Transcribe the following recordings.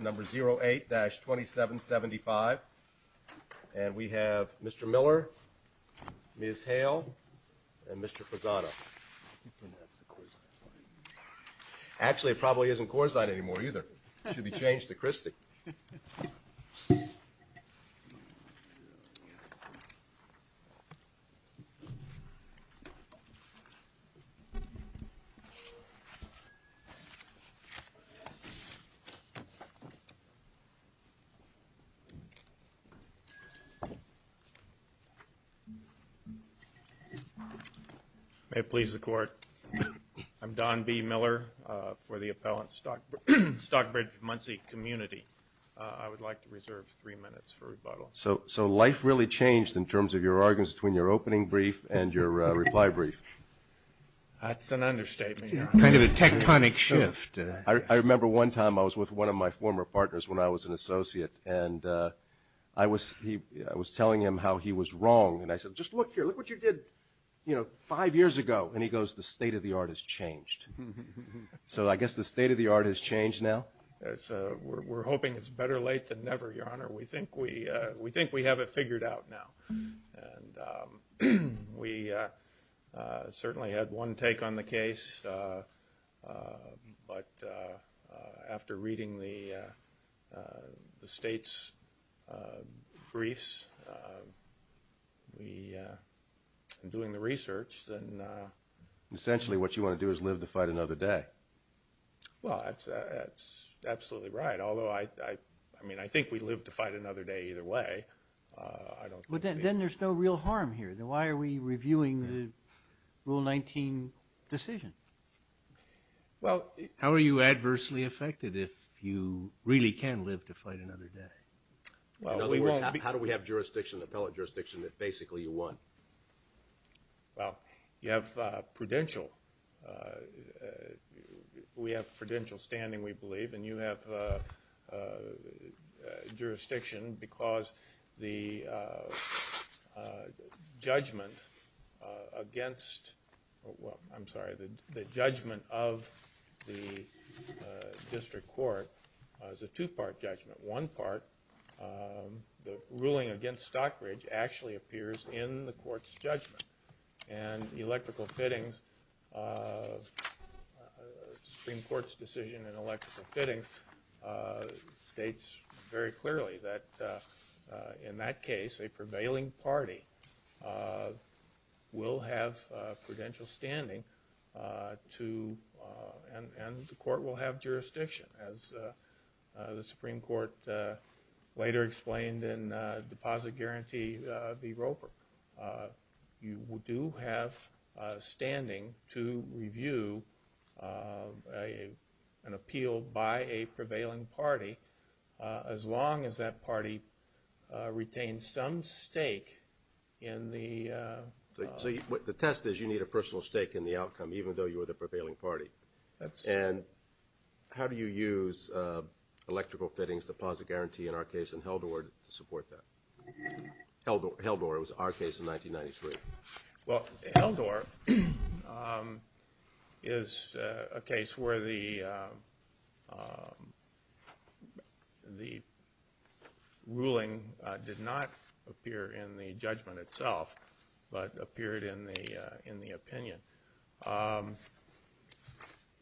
number 08-2775 and we have Mr. Miller, Ms. Hale and Mr. Fazzano. Actually it probably isn't Corzine anymore either. It should be changed to Christie. May it please the court, I'm Don B. Miller for the appellant Stockbridge-Munsee community. I would like to reserve three minutes for rebuttal. So life really changed in terms of your arguments between your opening brief and your reply brief. That's an understatement. Kind of a tectonic shift. I remember one time I was with one of my former partners when I was an associate and I was telling him how he was wrong. And I said, just look here, look what you did five years ago. And he goes, the state of the art has changed. So I guess the state of the art has changed now? We're hoping it's better late than never, Your Honor. We think we have it figured out now. We certainly had one take on the case. But after reading the state's briefs and doing the research, then essentially what you want to do is live to fight another day. Well, that's absolutely right. Although I mean, I think we live to fight another day either way. But then there's no real harm here. Why are we reviewing the Rule 19 decision? Well, how are you adversely affected if you really can live to fight another day? How do we have jurisdiction, appellate jurisdiction, that basically you won? Well, you have prudential. We have prudential standing, we believe. And you have jurisdiction because the judgment of the district court is a two-part judgment. One part, the ruling against Stockbridge actually appears in the court's judgment. And the state's very clearly that in that case a prevailing party will have prudential standing to and the court will have jurisdiction as the Supreme Court later explained in deposit guarantee v. Roper. You do have standing to review an appeal by a prevailing party as long as that party retains some stake in the – So the test is you need a personal stake in the outcome even though you were the prevailing party. And how do you use electrical fittings, deposit guarantee in our case in 1993? Well, Heldorff is a case where the ruling did not appear in the judgment itself but appeared in the opinion.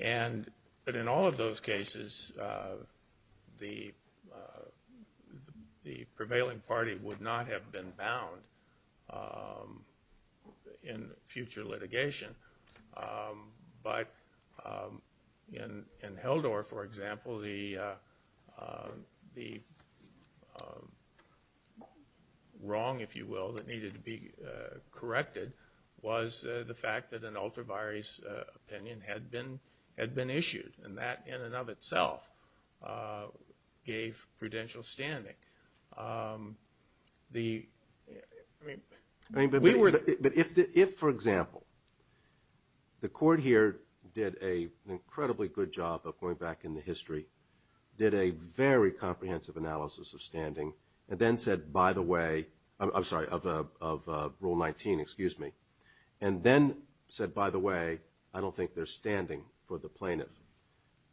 And – but in all of those cases, the prevailing party would not have been bound in future litigation. But in Heldorff, for example, the wrong, if you will, that needed to be corrected was the fact that an ultra-virus opinion had been issued. And that in and of itself gave prudential standing. The – I mean, we were – But if, for example, the court here did an incredibly good job of going back in the history, did a very comprehensive analysis of standing, and then said, by the way – I'm sorry, of Rule 19, excuse me, and then said, by the way, I don't think there's standing for the plaintiff.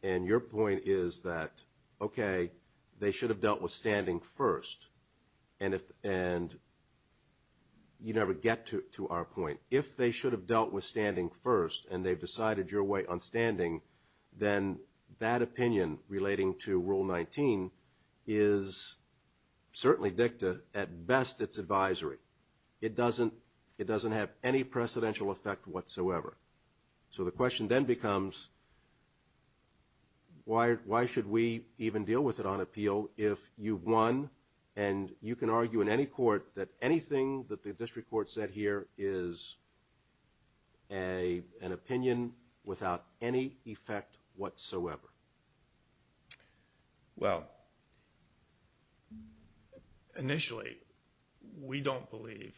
And your point is that, okay, they should have dealt with standing first, and if – and you never get to our point. If they should have dealt with standing first and they've decided your way on standing, then that opinion relating to Rule 19 is certainly dicta, at best, its advisory. It doesn't – it doesn't have any precedential effect whatsoever. So the question then becomes, why should we even deal with it on appeal if you've won, and you can argue in any court that anything that the district court said here is an opinion without any effect whatsoever? Well, initially, we don't believe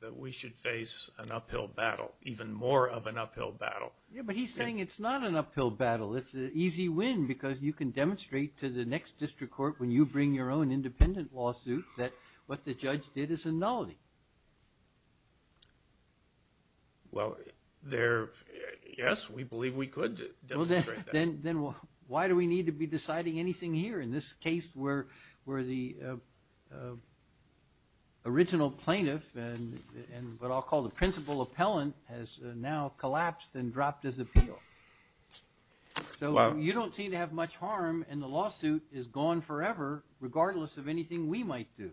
that we should face an uphill battle, even more of an uphill battle. Yeah, but he's saying it's not an uphill battle. It's an easy win because you can demonstrate to the next district court when you bring your own independent lawsuit that what the judge did is a nullity. Well, there – yes, we believe we could demonstrate that. Then why do we need to be deciding anything here in this case where the original plaintiff and what I'll call the principal appellant has now collapsed and dropped his appeal? So you don't seem to have much harm, and the lawsuit is gone forever regardless of anything we might do.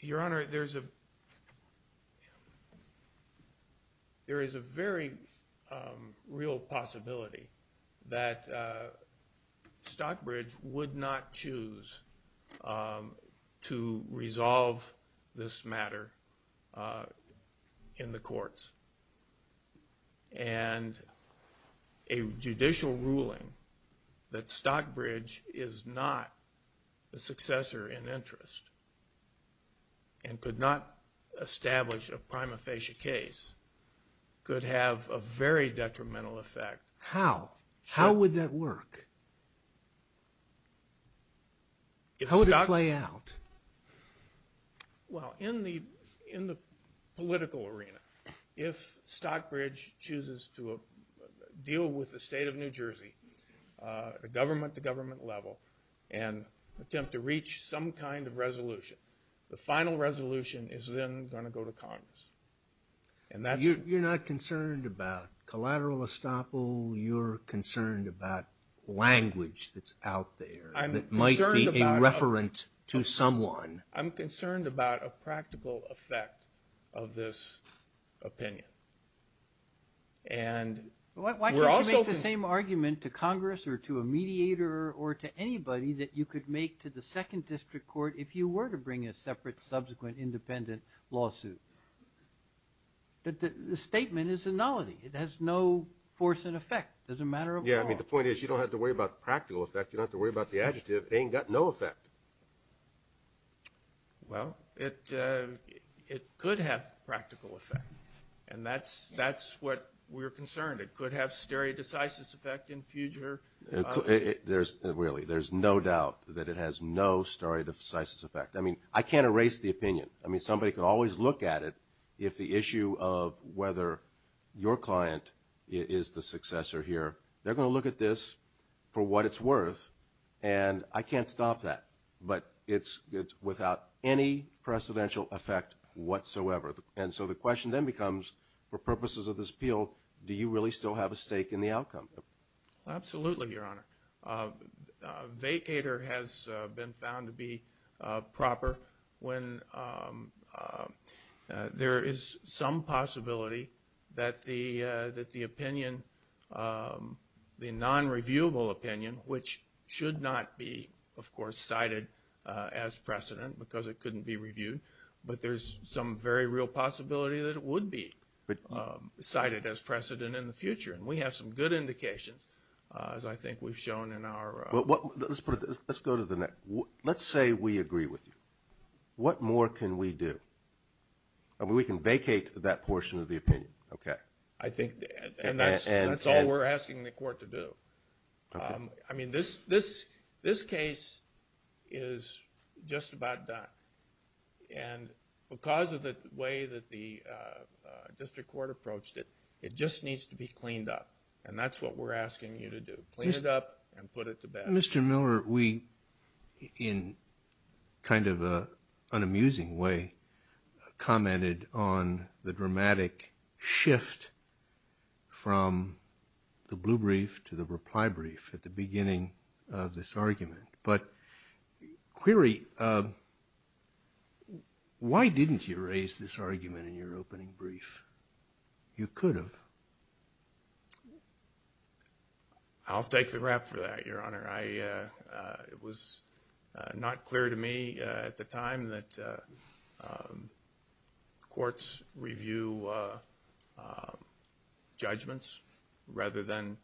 Your Honor, there's a – there is a very real possibility that Stockbridge would not choose to answer in interest and could not establish a prima facie case, could have a very detrimental effect. How? How would that work? How would it play out? Well, in the – in the political arena, if Stockbridge chooses to deal with the state of New York, there's some kind of resolution. The final resolution is then going to go to Congress, and that's – You're not concerned about collateral estoppel. You're concerned about language that's out there that might be a referent to someone. I'm concerned about a practical effect of this opinion, and we're also – if you were to bring a separate, subsequent, independent lawsuit. The statement is a nullity. It has no force and effect. It's a matter of law. Yeah, I mean, the point is you don't have to worry about practical effect. You don't have to worry about the adjective. It ain't got no effect. Well, it could have practical effect, and that's – that's what we're concerned. It could have stare decisis effect in future. There's – really, there's no doubt that it has no stare decisis effect. I mean, I can't erase the opinion. I mean, somebody could always look at it. If the issue of whether your client is the successor here, they're going to look at this for what it's worth, and I can't stop that. But it's – it's without any precedential effect whatsoever. And so the question then becomes, for purposes of this appeal, do you really still have a stake in the outcome? Absolutely, Your Honor. A vacater has been found to be proper when there is some possibility that the – that the opinion – the non-reviewable opinion, which should not be, of course, cited as precedent because it couldn't be reviewed, but there's some very real possibility that it would be cited as precedent in the future, and we have some good indications, as I think we've shown in our – But what – let's put it – let's go to the next – let's say we agree with you. What more can we do? I mean, we can vacate that portion of the opinion, okay? I think – and that's all we're asking the court to do. I mean, this case is just about done, and because of the way that the district court approached it, it just needs to be cleaned up, and that's what we're asking you to do, clean it up and put it to bed. Mr. Miller, we, in kind of an amusing way, commented on the dramatic shift from the blue brief to the reply brief at the beginning of this argument. But, query, why didn't you raise this argument in your opening brief? You could have. I'll take the rap for that, Your Honor. I – it was not clear to me at the time that courts review judgments rather than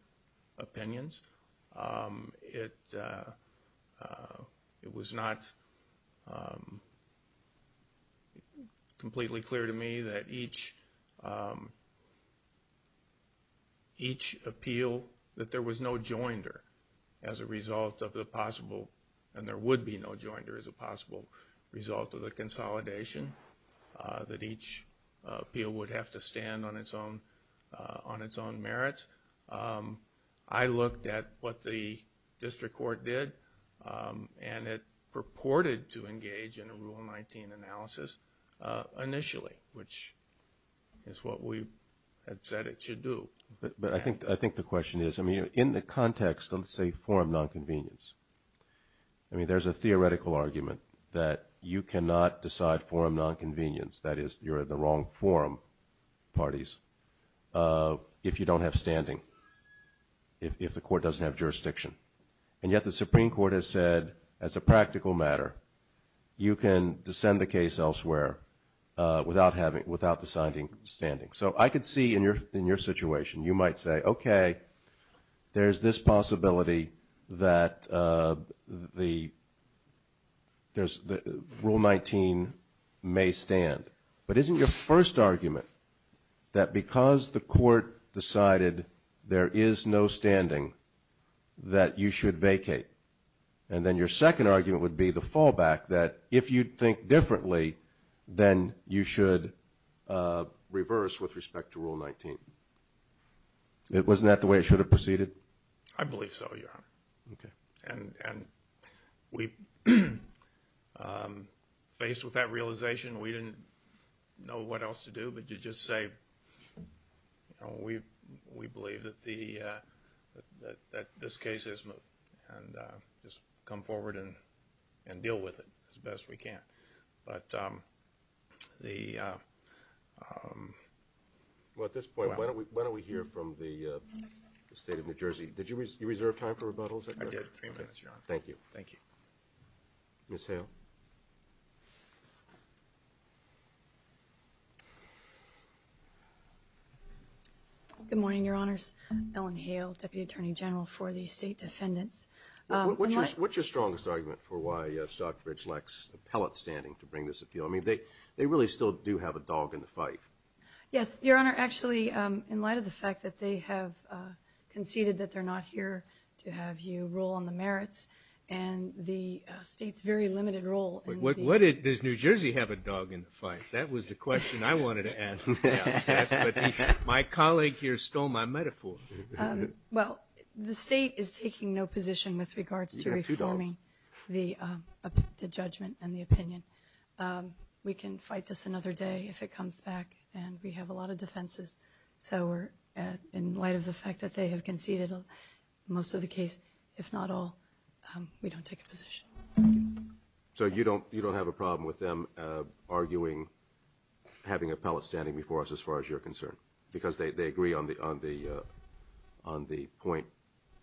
opinions. It was not completely clear to me that each appeal – that there was no joinder as a result of the possible – and there would be no joinder as a possible result of the consolidation, that each appeal would have to stand on its own merits. I looked at what the district court did, and it purported to engage in a Rule 19 analysis initially, which is what we had said it should do. But I think the question is, I mean, in the context of, say, forum nonconvenience, I mean, there's a theoretical argument that you cannot decide forum nonconvenience – that is, you're in the wrong forum parties – if you don't have standing, if the court doesn't have standing, if the court has said, as a practical matter, you can descend the case elsewhere without having – without deciding standing. So I could see in your situation, you might say, okay, there's this possibility that the – there's – Rule 19 may stand. But isn't your first argument that because the court decided there is no standing, that you should vacate? And then your second argument would be the fallback, that if you'd think differently, then you should reverse with respect to Rule 19. Wasn't that the way it should have proceeded? I believe so, Your Honor. Okay. And we – faced with that realization, we didn't know what else to do but to just say, you know, we believe that the – that this case is – and just come forward and deal with it as best we can. But the – Well, at this point, why don't we hear from the State of New Jersey? Did you reserve time for rebuttals? I did. Three minutes, Your Honor. Thank you. Thank you. Ms. Hale. Good morning, Your Honors. Ellen Hale, Deputy Attorney General for the State Defendants. What's your strongest argument for why Stockbridge lacks appellate standing to bring this appeal? I mean, they really still do have a dog in the fight. Yes, Your Honor. Actually, in light of the fact that they have conceded that they're not here to have you rule on the merits, and the State's very limited role in the – What – does New Jersey have a dog in the fight? That was the question I wanted to ask at the outset. But my colleague here stole my metaphor. Well, the State is taking no position with regards to reforming the judgment and the opinion. We can fight this another day if it comes back, and we have a lot of defenses. So we're – in light of the fact that we have conceded most of the case, if not all, we don't take a position. So you don't have a problem with them arguing – having appellate standing before us as far as you're concerned? Because they agree on the point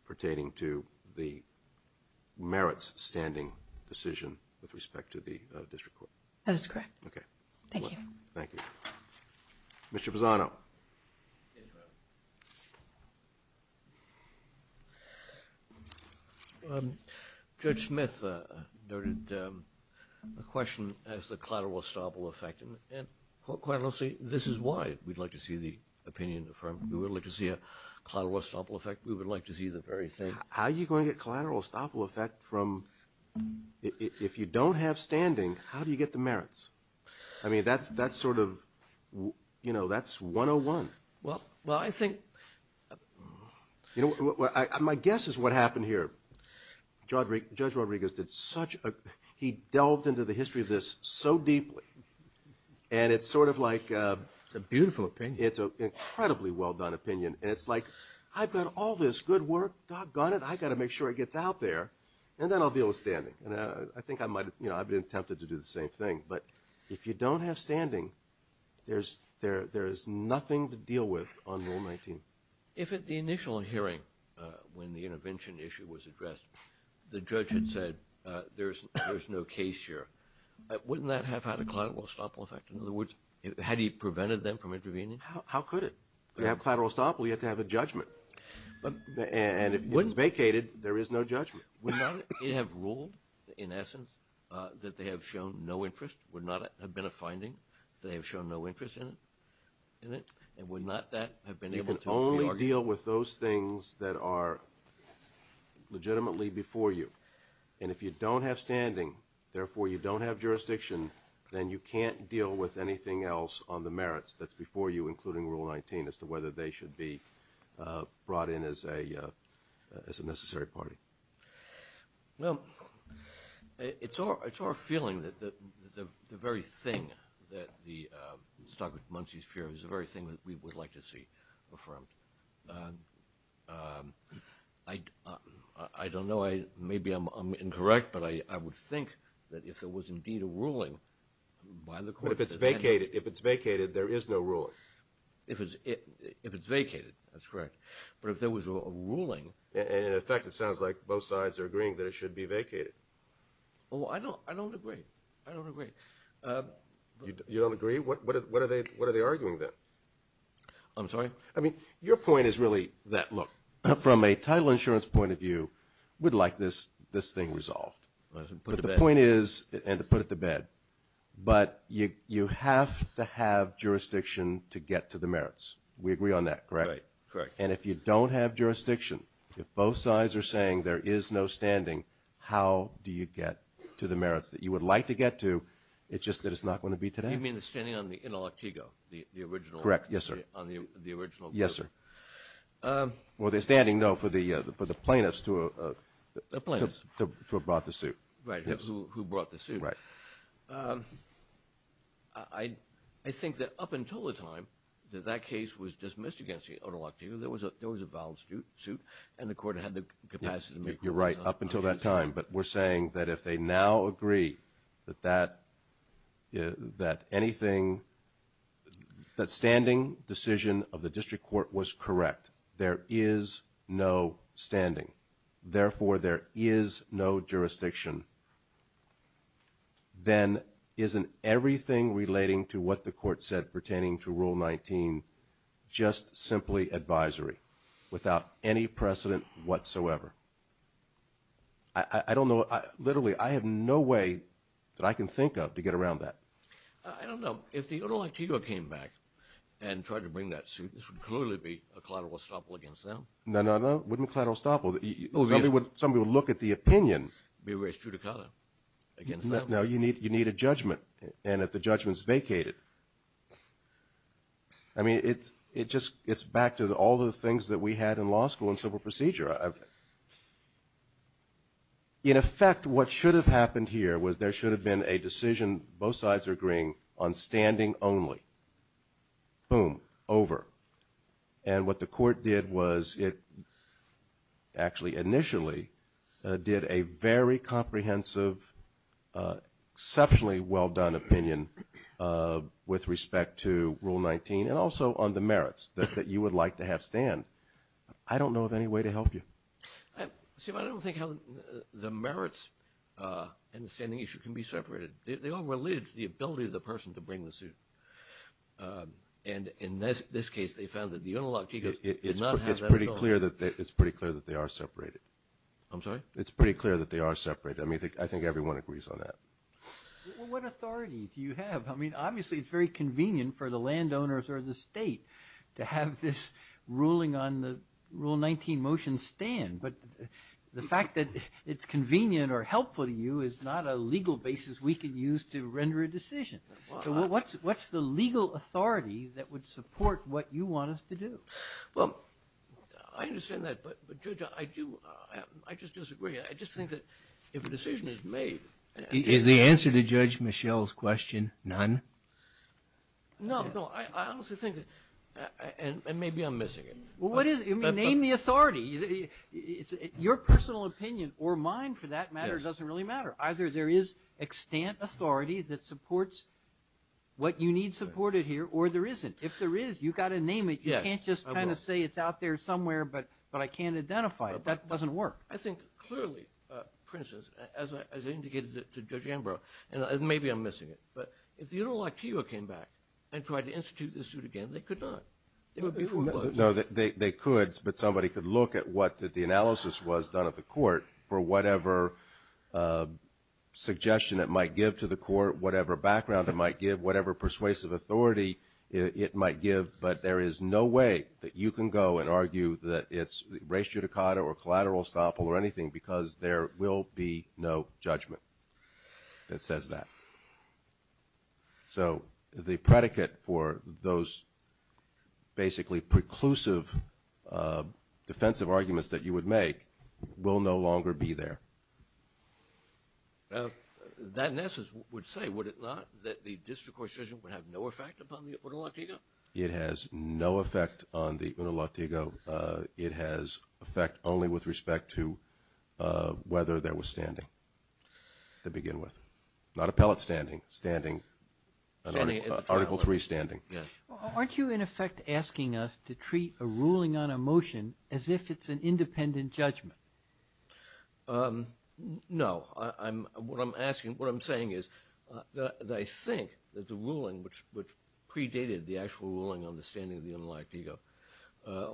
pertaining to the merits standing decision with respect to the district court? That is correct. Okay. Thank you. Thank you. Mr. Fasano. Judge Smith noted a question as to the collateral estoppel effect. And quite honestly, this is why we'd like to see the opinion affirmed. We would like to see a collateral estoppel effect. We would like to see the very thing. How are you going to get collateral estoppel effect from – if you don't have standing, how do you get the merits? I mean, that's sort of – that's 101. Well, I think – you know, my guess is what happened here. Judge Rodriguez did such a – he delved into the history of this so deeply. And it's sort of like – It's a beautiful opinion. It's an incredibly well-done opinion. And it's like, I've got all this good work, doggone it, I've got to make sure it gets out there, and then I'll deal with standing. And I think I might – I've been tempted to do the same thing. But if you don't have standing, there's nothing to deal with on Rule 19. If at the initial hearing, when the intervention issue was addressed, the judge had said, there's no case here, wouldn't that have had a collateral estoppel effect? In other words, had he prevented them from intervening? How could it? You have collateral estoppel, you have to have a judgment. And if it was vacated, there is no judgment. Would not it have ruled, in essence, that they have shown no interest? Would not it have been a finding that they have shown no interest in it? And would not that have been able to be argued? You can only deal with those things that are legitimately before you. And if you don't have standing, therefore you don't have jurisdiction, then you can't deal with anything else on the merits that's before you, including Rule 19, as to whether they should be brought in as a necessary party. Well, it's our feeling that the very thing that the Stockbrook-Muncie fear is the very thing that we would like to see affirmed. I don't know, maybe I'm incorrect, but I would think that if there was indeed a ruling by the court... But if it's vacated, if it's vacated, there is no ruling. If it's vacated, that's correct. But if there was a ruling... And in effect, it sounds like both sides are agreeing that it should be vacated. Well, I don't agree. I don't agree. You don't agree? What are they arguing, then? I'm sorry? I mean, your point is really that, look, from a title insurance point of view, we'd like this thing resolved. But the point is, and to put it to bed, but you have to have jurisdiction to get to the merits. We agree on that, correct? Right. Correct. And if you don't have jurisdiction, if both sides are saying there is no standing, how do you get to the merits that you would like to get to? It's just that it's not going to be today. You mean the standing on the Otolantigo, the original... Correct. Yes, sir. On the original... Yes, sir. Well, the standing, no, for the plaintiffs to... The plaintiffs. Who brought the suit. Right, who brought the suit. Right. I think that up until the time that that case was dismissed against the Otolantigo, there was a valid suit, and the court had the capacity to make rules on it. You're right, up until that time. But we're saying that if they now agree that anything, that standing decision of the district court was correct, there is no standing, therefore there is no jurisdiction, then isn't everything relating to what the court said pertaining to Rule 19 just simply advisory without any precedent whatsoever? I don't know, literally, I have no way that I can think of to get around that. I don't know. If the Otolantigo came back and tried to bring that suit, this would clearly be a collateral estoppel against them. No, no, no, wouldn't collateral estoppel. Somebody would look at the opinion... Be raised to the counter against them. No, you need a judgment, and if the judgment's vacated... I mean, it's back to all the things that we had in law school and civil procedure. In effect, what should have happened here was there should have been a decision, both sides are agreeing, on standing only. Boom, over. And what the court did was it actually initially did a very comprehensive, exceptionally well-done opinion with respect to Rule 19, and also on the merits that you would like to have stand. I don't know of any way to help you. See, but I don't think how the merits and the standing issue can be separated. They're all related to the ability of the person to bring the suit. And in this case, they found that the Otolantigo did not have that at all. It's pretty clear that they are separated. I'm sorry? It's pretty clear that they are separated. I think everyone agrees on that. What authority do you have? I mean, obviously, it's very convenient for the landowners or the state to have this ruling on the Rule 19 motion stand, but the fact that it's convenient or helpful to you is not a legal basis we can use to render a decision. So what's the legal authority that would support what you want us to do? Well, I understand that. But, Judge, I just disagree. I just think that if a decision is made... Is the answer to Judge Michel's question none? No, no. I honestly think that... And maybe I'm missing it. Well, what is it? I mean, name the authority. Your personal opinion or mine for that matter doesn't really matter. Either there is extant authority that supports what you need supported here, or there isn't. If there is, you've got to name it. You can't just kind of say it's out there somewhere, but I can't identify it. That doesn't work. I think, clearly, for instance, as I indicated to Judge Ambrose, and maybe I'm missing it, but if the United Law Institute came back and tried to institute this suit again, they could not. There would be no... No, they could. But somebody could look at what the analysis was done at the court for whatever suggestion it might give to the court, whatever background it might give, But there is no way that you can go and argue that it's res judicata or collateral estoppel or anything because there will be no judgment that says that. So the predicate for those basically preclusive defensive arguments that you would make will no longer be there. That analysis would say, would it not, that the district court's decision would have no effect upon the Uno Latigo? It has no effect on the Uno Latigo. It has effect only with respect to whether there was standing to begin with. Not appellate standing. Standing, Article 3 standing. Aren't you, in effect, asking us to treat a ruling on a motion as if it's an independent judgment? No. What I'm asking, what I'm saying is that I think that the ruling which predated the actual ruling on the standing of the Uno Latigo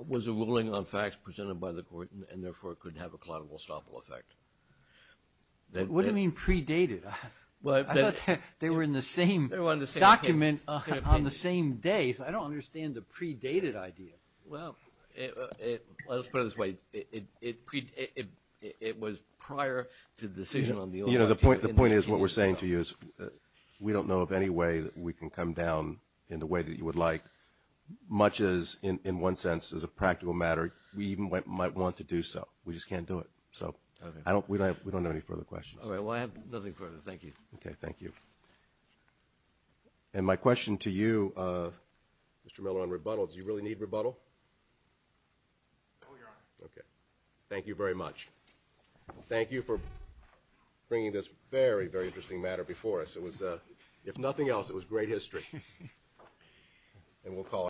was a ruling on facts presented by the court and therefore could have a collateral estoppel effect. What do you mean predated? They were in the same document on the same day. I don't understand the predated idea. Well, let's put it this way. It was prior to the decision on the Uno Latigo. The point is what we're saying to you is we don't know of any way that we can come down in the way that you would like. Much as, in one sense, as a practical matter, we even might want to do so. We just can't do it. So we don't have any further questions. All right. Well, I have nothing further. Thank you. Okay, thank you. And my question to you, Mr. Miller, on rebuttal, do you really need rebuttal? No, Your Honor. Okay. Thank you very much. Thank you for bringing this very, very interesting matter before us. It was, if nothing else, it was great history.